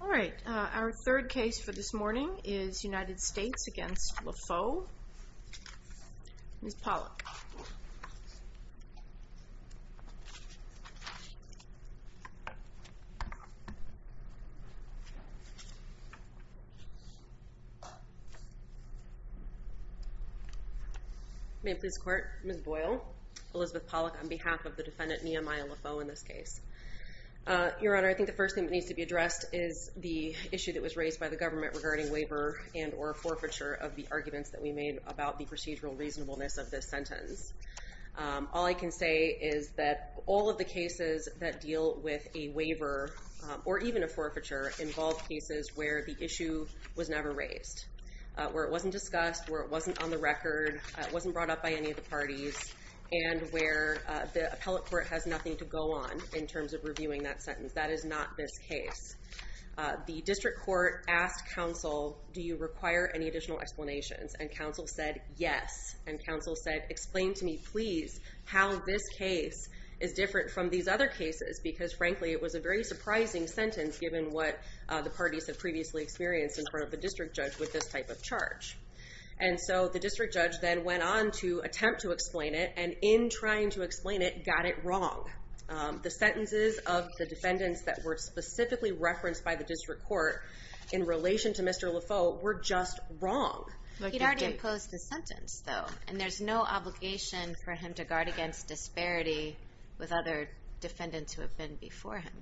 All right, our third case for this morning is United States v. Lafoe. Ms. Pollack. May it please the court. Ms. Boyle. Elizabeth Pollack on behalf of the defendant Nehemiah Lafoe in this case. Your Honor, I think the first thing that needs to be addressed is the issue that was raised by the government regarding waiver and or forfeiture of the arguments that we made about the procedural reasonableness of this sentence. All I can say is that all of the cases that deal with a waiver or even a forfeiture involve cases where the issue was never raised. Where it wasn't discussed, where it wasn't on the record, it wasn't brought up by any of the parties, and where the appellate court has nothing to go on in terms of reviewing that sentence. That is not this case. The district court asked counsel, do you require any additional explanations? And counsel said, yes. And counsel said, explain to me, please, how this case is different from these other cases. Because, frankly, it was a very surprising sentence given what the parties have previously experienced in front of the district judge with this type of charge. And so the district judge then went on to attempt to explain it, and in trying to explain it, got it wrong. The sentences of the defendants that were specifically referenced by the district court in relation to Mr. Lafoe were just wrong. He'd already imposed the sentence, though, and there's no obligation for him to guard against disparity with other defendants who have been before him.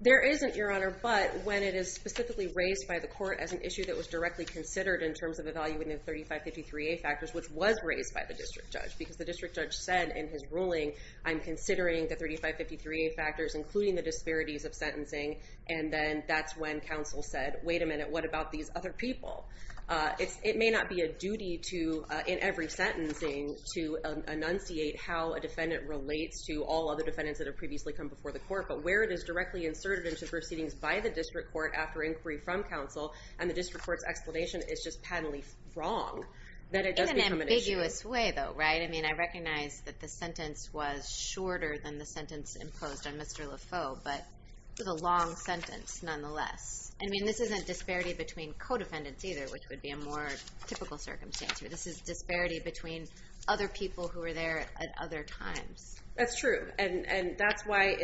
There isn't, Your Honor, but when it is specifically raised by the court as an issue that was directly considered in terms of evaluating the 3553A factors, which was raised by the district judge. Because the district judge said in his ruling, I'm considering the 3553A factors, including the disparities of sentencing, and then that's when counsel said, wait a minute, what about these other people? It may not be a duty to, in every sentencing, to enunciate how a defendant relates to all other defendants that have previously come before the court. But where it is directly inserted into proceedings by the district court after inquiry from counsel, and the district court's explanation is just patently wrong, then it does become an issue. In an ambiguous way, though, right? I mean, I recognize that the sentence was shorter than the sentence imposed on Mr. Lafoe, but it was a long sentence, nonetheless. I mean, this isn't disparity between co-defendants either, which would be a more typical circumstance here. This is disparity between other people who were there at other times. That's true, and that's why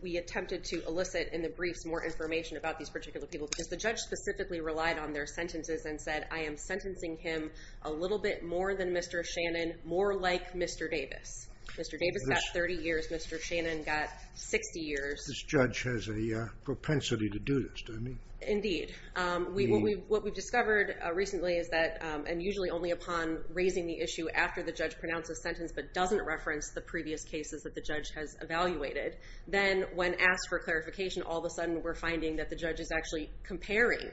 we attempted to elicit in the briefs more information about these particular people. Because the judge specifically relied on their sentences and said, I am sentencing him a little bit more than Mr. Shannon, more like Mr. Davis. Mr. Davis got 30 years, Mr. Shannon got 60 years. This judge has a propensity to do this, doesn't he? Indeed. What we've discovered recently is that, and usually only upon raising the issue after the judge pronounces a sentence but doesn't reference the previous cases that the judge has evaluated, then when asked for clarification, all of a sudden we're finding that the judge is actually comparing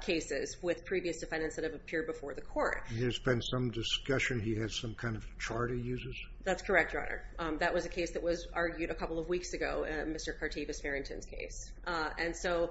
cases with previous defendants that have appeared before the court. There's been some discussion he has some kind of chart he uses? That's correct, Your Honor. That was a case that was argued a couple of weeks ago, Mr. Cartevis-Farrington's case. And so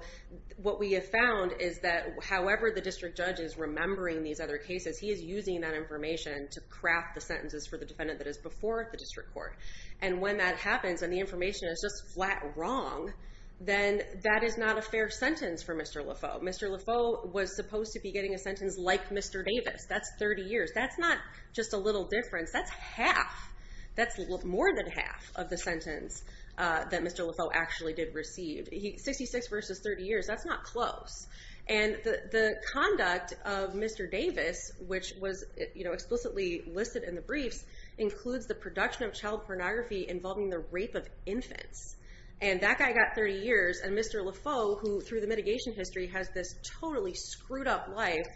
what we have found is that however the district judge is remembering these other cases, he is using that information to craft the sentences for the defendant that is before the district court. And when that happens and the information is just flat wrong, then that is not a fair sentence for Mr. Lafoe. Mr. Lafoe was supposed to be getting a sentence like Mr. Davis. That's 30 years. That's not just a little difference, that's half. That's more than half of the sentence that Mr. Lafoe actually did receive. 66 versus 30 years, that's not close. And the conduct of Mr. Davis, which was explicitly listed in the briefs, includes the production of child pornography involving the rape of infants. And that guy got 30 years and Mr. Lafoe, who through the mitigation history, has this totally screwed up life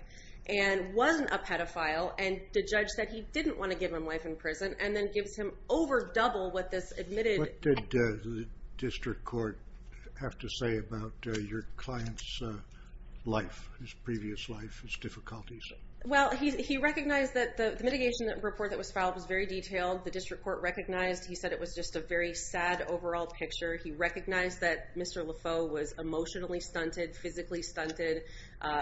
and wasn't a pedophile. And the judge said he didn't want to give him life in prison and then gives him over double what this admitted... What did the district court have to say about your client's life, his previous life, his difficulties? Well, he recognized that the mitigation report that was filed was very detailed. The district court recognized. He said it was just a very sad overall picture. He recognized that Mr. Lafoe was emotionally stunted, physically stunted,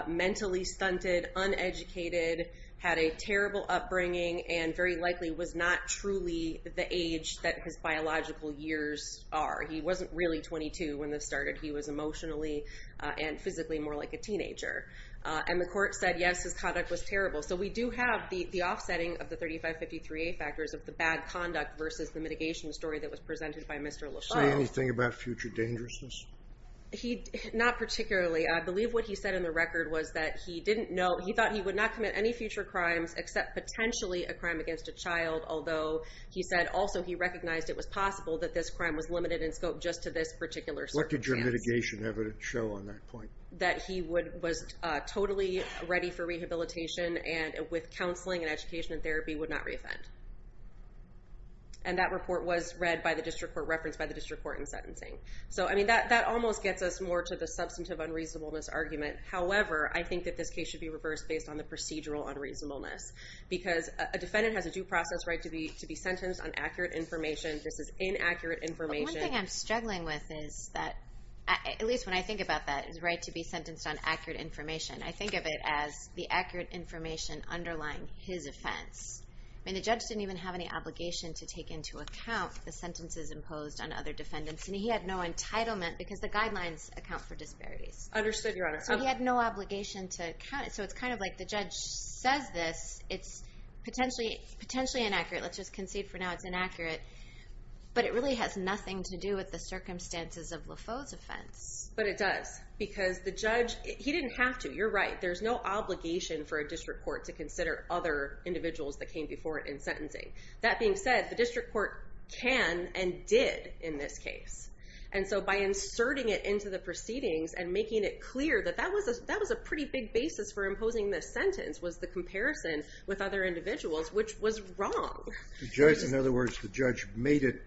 mentally stunted, uneducated, had a terrible upbringing, and very likely was not truly the age that his biological years are. He wasn't really 22 when this started. He was emotionally and physically more like a teenager. And the court said, yes, his conduct was terrible. So we do have the offsetting of the 3553A factors of the bad conduct versus the mitigation story that was presented by Mr. Lafoe. Did he say anything about future dangerousness? Not particularly. I believe what he said in the record was that he didn't know. He thought he would not commit any future crimes except potentially a crime against a child. Although he said also he recognized it was possible that this crime was limited in scope just to this particular circumstance. What did your mitigation evidence show on that point? That he was totally ready for rehabilitation and with counseling and education and therapy would not reoffend. And that report was read by the district court, referenced by the district court in sentencing. So, I mean, that almost gets us more to the substantive unreasonableness argument. However, I think that this case should be reversed based on the procedural unreasonableness. Because a defendant has a due process right to be sentenced on accurate information versus inaccurate information. One thing I'm struggling with is that, at least when I think about that, is the right to be sentenced on accurate information. I think of it as the accurate information underlying his offense. I mean, the judge didn't even have any obligation to take into account the sentences imposed on other defendants. And he had no entitlement because the guidelines account for disparities. Understood, Your Honor. So he had no obligation to count it. So it's kind of like the judge says this, it's potentially inaccurate. Let's just concede for now it's inaccurate. But it really has nothing to do with the circumstances of Lafoe's offense. But it does. Because the judge, he didn't have to. You're right. There's no obligation for a district court to consider other individuals that came before it in sentencing. That being said, the district court can and did in this case. And so by inserting it into the proceedings and making it clear that that was a pretty big basis for imposing this sentence was the comparison with other individuals, which was wrong. In other words, the judge made it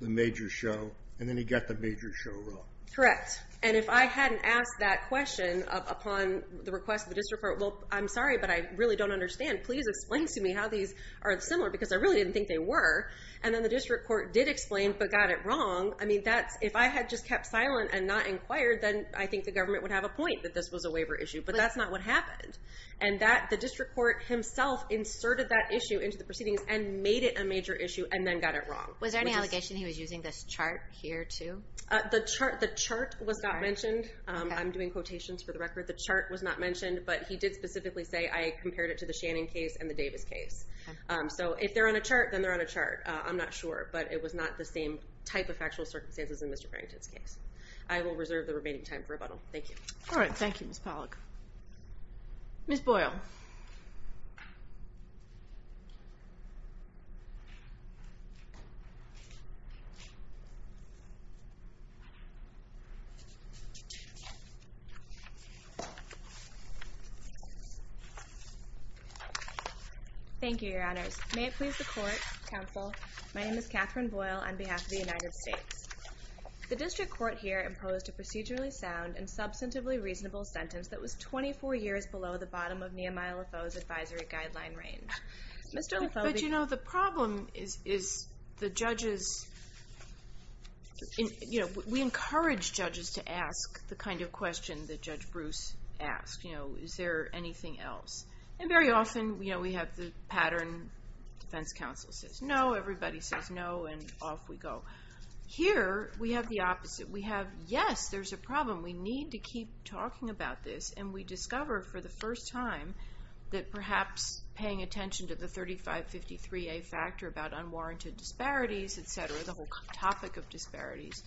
the major show, and then he got the major show wrong. Correct. And if I hadn't asked that question upon the request of the district court, well, I'm sorry, but I really don't understand. Please explain to me how these are similar because I really didn't think they were. And then the district court did explain but got it wrong. I mean, if I had just kept silent and not inquired, then I think the government would have a point that this was a waiver issue. But that's not what happened. And the district court himself inserted that issue into the proceedings and made it a major issue and then got it wrong. Was there any allegation he was using this chart here, too? The chart was not mentioned. I'm doing quotations for the record. The chart was not mentioned, but he did specifically say I compared it to the Shannon case and the Davis case. So if they're on a chart, then they're on a chart. I'm not sure, but it was not the same type of factual circumstances in Mr. Farrington's case. I will reserve the remaining time for rebuttal. Thank you. All right, thank you, Ms. Pollack. Ms. Boyle. Thank you, Your Honors. May it please the Court, Counsel, my name is Catherine Boyle on behalf of the United States. The district court here imposed a procedurally sound and substantively reasonable sentence that was 24 years below the bottom of Nehemiah LaFoe's advisory guideline range. Mr. LaFoe. But, you know, the problem is the judges, you know, we encourage judges to ask the kind of question that Judge Bruce asked. You know, is there anything else? And very often, you know, we have the pattern defense counsel says no, everybody says no, and off we go. Here, we have the opposite. We have yes, there's a problem, we need to keep talking about this, and we discover for the first time that perhaps paying attention to the 3553A factor about unwarranted disparities, et cetera, the whole topic of disparities,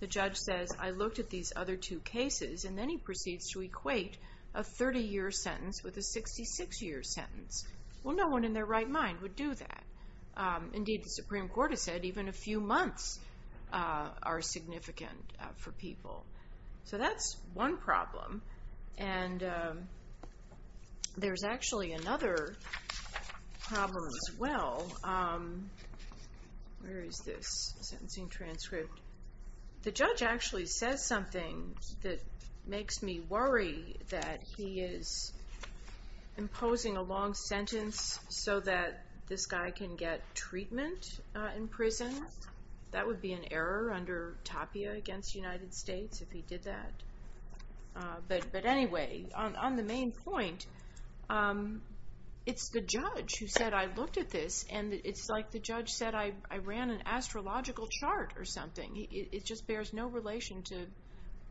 the judge says I looked at these other two cases, and then he proceeds to equate a 30-year sentence with a 66-year sentence. Well, no one in their right mind would do that. Indeed, the Supreme Court has said even a few months are significant for people. So that's one problem. And there's actually another problem as well. Where is this sentencing transcript? The judge actually says something that makes me worry that he is imposing a long sentence so that this guy can get treatment in prison. That would be an error under Tapia against the United States if he did that. But anyway, on the main point, it's the judge who said I looked at this, and it's like the judge said I ran an astrological chart or something. It just bears no relation to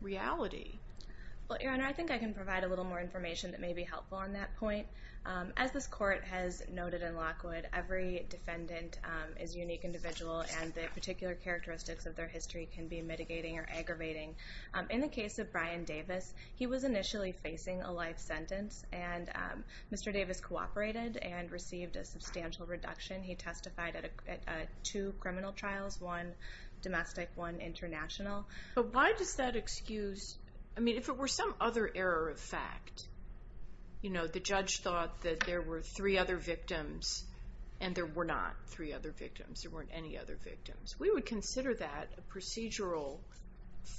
reality. Well, Erin, I think I can provide a little more information that may be helpful on that point. As this court has noted in Lockwood, every defendant is a unique individual, and the particular characteristics of their history can be mitigating or aggravating. In the case of Brian Davis, he was initially facing a life sentence, and Mr. Davis cooperated and received a substantial reduction. He testified at two criminal trials, one domestic, one international. But why does that excuse? I mean, if it were some other error of fact, you know, the judge thought that there were three other victims, and there were not three other victims. There weren't any other victims. We would consider that a procedural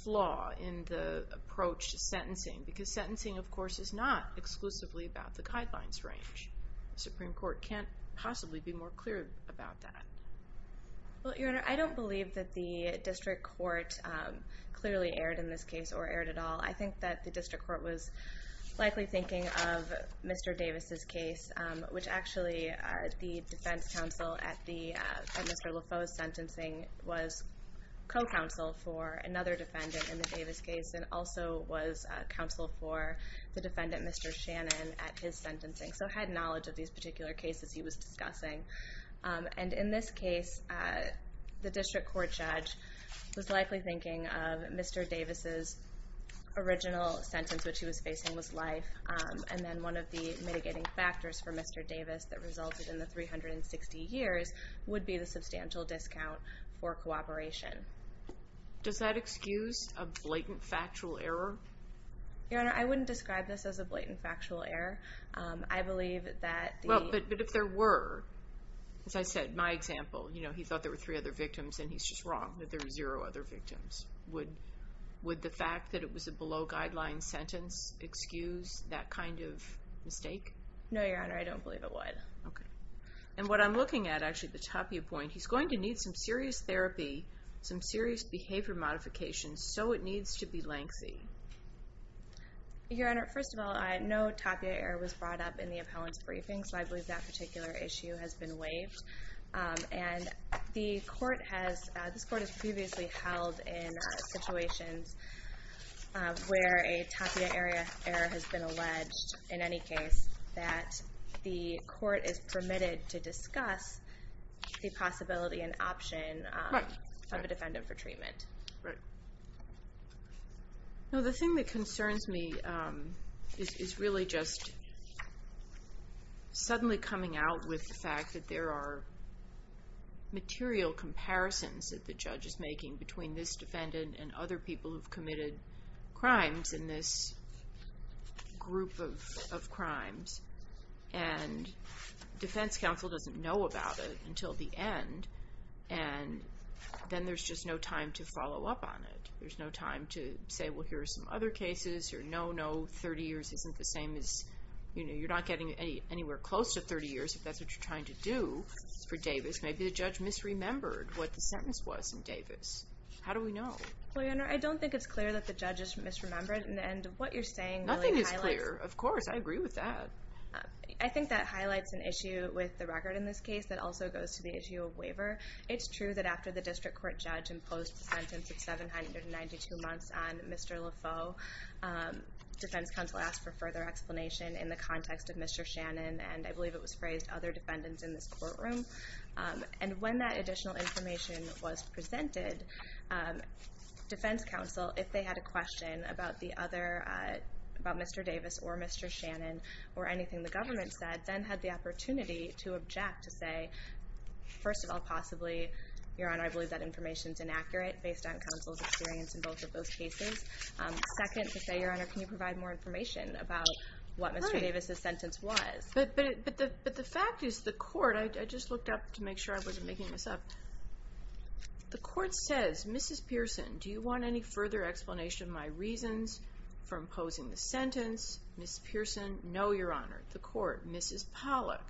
flaw in the approach to sentencing because sentencing, of course, is not exclusively about the guidelines range. The Supreme Court can't possibly be more clear about that. Well, your Honor, I don't believe that the district court clearly erred in this case or erred at all. I think that the district court was likely thinking of Mr. Davis' case, which actually the defense counsel at Mr. Lafoe's sentencing was co-counsel for another defendant in the Davis case and also was counsel for the defendant, Mr. Shannon, at his sentencing, so had knowledge of these particular cases he was discussing. And in this case, the district court judge was likely thinking of Mr. Davis' original sentence, which he was facing was life, and then one of the mitigating factors for Mr. Davis that resulted in the 360 years would be the substantial discount for cooperation. Does that excuse a blatant factual error? Your Honor, I wouldn't describe this as a blatant factual error. I believe that the... Well, but if there were, as I said, my example, you know, he thought there were three other victims, and he's just wrong that there are zero other victims. Would the fact that it was a below-guideline sentence excuse that kind of mistake? No, your Honor, I don't believe it would. Okay. And what I'm looking at, actually, the Tapia point, he's going to need some serious therapy, some serious behavior modification, so it needs to be lengthy. Your Honor, first of all, I know Tapia error was brought up in the appellant's briefing, so I believe that particular issue has been waived. And the court has previously held in situations where a Tapia error has been alleged, in any case, that the court is permitted to discuss the possibility and option of a defendant for treatment. Right. No, the thing that concerns me is really just suddenly coming out with the fact that there are material comparisons that the judge is making between this defendant and other people who've committed crimes in this group of crimes, and defense counsel doesn't know about it until the end, and then there's just no time to follow up on it. There's no time to say, well, here are some other cases, or no, no, 30 years isn't the same as, you know, you're not getting anywhere close to 30 years if that's what you're trying to do for Davis. Maybe the judge misremembered what the sentence was in Davis. How do we know? Well, your Honor, I don't think it's clear that the judge is misremembered, and what you're saying really highlights. Nothing is clear. Of course. I agree with that. I think that highlights an issue with the record in this case that also goes to the issue of waiver. It's true that after the district court judge imposed the sentence of 792 months on Mr. Lafoe, defense counsel asked for further explanation in the context of Mr. Shannon, and I believe it was phrased, other defendants in this courtroom. And when that additional information was presented, defense counsel, if they had a question about Mr. Davis or Mr. Shannon or anything the government said, then had the opportunity to object, to say, first of all, possibly, your Honor, I believe that information is inaccurate based on counsel's experience in both of those cases. Second, to say, your Honor, can you provide more information about what Mr. Davis' sentence was? But the fact is the court, I just looked up to make sure I wasn't making this up, the court says, Mrs. Pearson, do you want any further explanation of my reasons for imposing the sentence? Mrs. Pearson, no, your Honor. The court, Mrs. Pollack,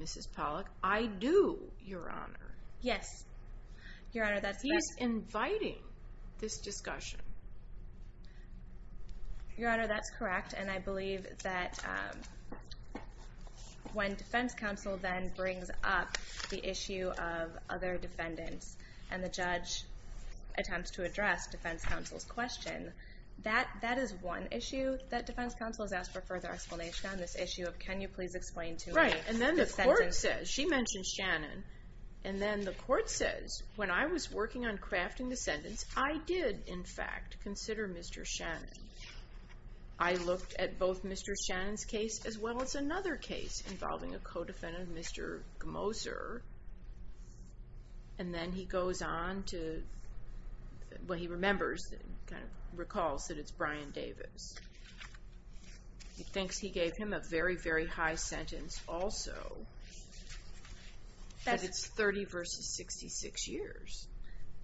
Mrs. Pollack, I do, your Honor. Yes, your Honor, that's correct. He's inviting this discussion. Your Honor, that's correct, and I believe that when defense counsel then brings up the issue of other defendants and the judge attempts to address defense counsel's question, that is one issue that defense counsel has asked for further explanation on, this issue of can you please explain to me the sentence? Right, and then the court says, she mentions Shannon, and then the court says, when I was working on crafting the sentence, I did, in fact, consider Mr. Shannon. I looked at both Mr. Shannon's case as well as another case involving a co-defendant, Mr. Gmoser, and then he goes on to, well, he remembers, kind of recalls that it's Brian Davis. He thinks he gave him a very, very high sentence also, but it's 30 versus 66 years.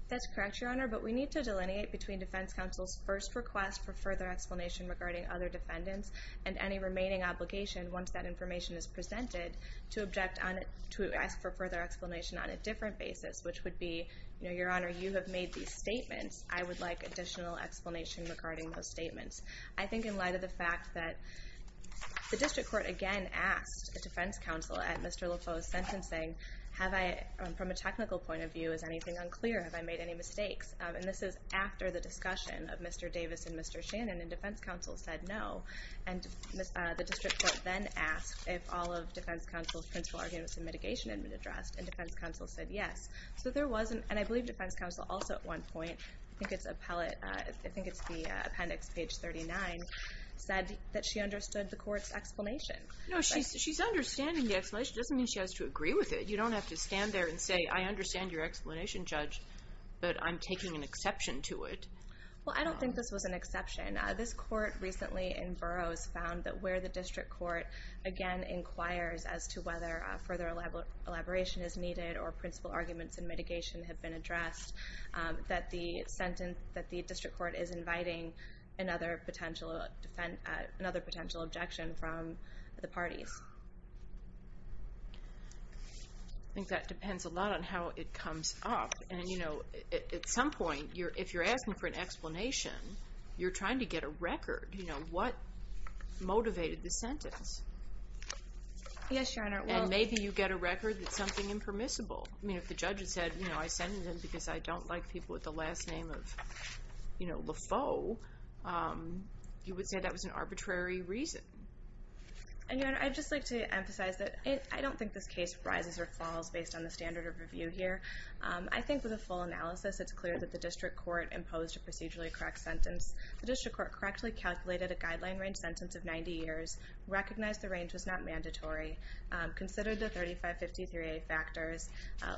That's correct, your Honor, but we need to delineate between defense counsel's first request for further explanation regarding other defendants and any remaining obligation, once that information is presented, to ask for further explanation on a different basis, which would be, your Honor, you have made these statements. I would like additional explanation regarding those statements. I think in light of the fact that the district court, again, asked the defense counsel at Mr. Lefeu's sentencing, have I, from a technical point of view, is anything unclear? Have I made any mistakes? And this is after the discussion of Mr. Davis and Mr. Shannon, the defense counsel said no, and the district court then asked if all of defense counsel's principal arguments in mitigation had been addressed, and defense counsel said yes. So there was an, and I believe defense counsel also at one point, I think it's the appendix, page 39, said that she understood the court's explanation. No, she's understanding the explanation. It doesn't mean she has to agree with it. You don't have to stand there and say, I understand your explanation, Judge, but I'm taking an exception to it. Well, I don't think this was an exception. This court recently in Burroughs found that where the district court, again, inquires as to whether further elaboration is needed or principal arguments in mitigation have been addressed, that the district court is inviting another potential objection from the parties. I think that depends a lot on how it comes off. And, you know, at some point, if you're asking for an explanation, you're trying to get a record. You know, what motivated the sentence? Yes, Your Honor. And maybe you get a record that something impermissible. I mean, if the judge had said, you know, I sent it in because I don't like people with the last name of, you know, Lafoe, you would say that was an arbitrary reason. And, Your Honor, I'd just like to emphasize that I don't think this case rises or falls based on the standard of review here. I think with a full analysis, it's clear that the district court imposed a procedurally correct sentence. The district court correctly calculated a guideline range sentence of 90 years, recognized the range was not mandatory, considered the 3553A factors,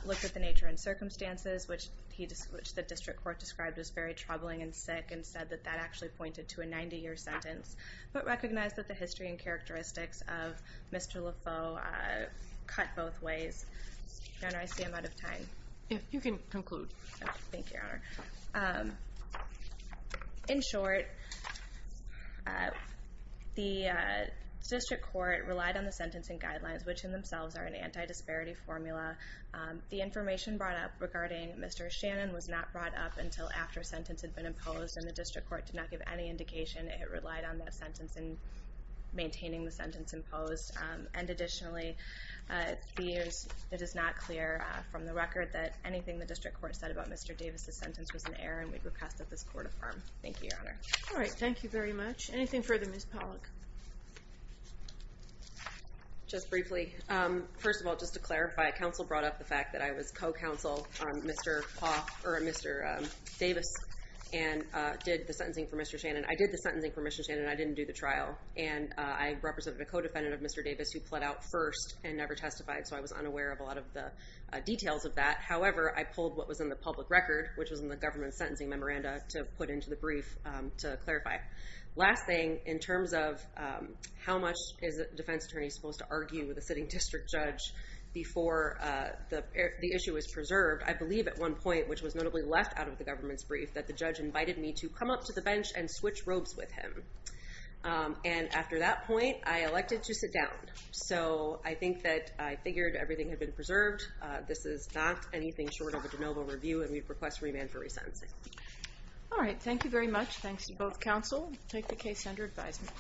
looked at the nature and circumstances, which the district court described as very troubling and sick, and said that that actually pointed to a 90-year sentence, but recognized that the history and characteristics of Mr. Lafoe cut both ways. Your Honor, I see I'm out of time. You can conclude. Thank you, Your Honor. In short, the district court relied on the sentencing guidelines, which in themselves are an anti-disparity formula. The information brought up regarding Mr. Shannon was not brought up until after a sentence had been imposed, and the district court did not give any indication it relied on that sentence in maintaining the sentence imposed. And additionally, it is not clear from the record that anything the district court said about Mr. Davis' sentence was an error, and we request that this court affirm. Thank you, Your Honor. All right. Thank you very much. Anything further, Ms. Pollack? Just briefly, first of all, just to clarify, counsel brought up the fact that I was co-counsel, Mr. Davis, and did the sentencing for Mr. Shannon. I did the sentencing for Mr. Shannon. I didn't do the trial. And I represented a co-defendant of Mr. Davis who pled out first and never testified, so I was unaware of a lot of the details of that. However, I pulled what was in the public record, which was in the government sentencing memoranda, to put into the brief to clarify. Last thing, in terms of how much is a defense attorney supposed to argue with a sitting district judge before the issue is preserved, I believe at one point, which was notably left out of the government's brief, that the judge invited me to come up to the bench and switch robes with him. And after that point, I elected to sit down. So I think that I figured everything had been preserved. This is not anything short of a de novo review, and we request remand for resentencing. All right. Thank you very much. Thanks to both counsel. Take the case under advisement.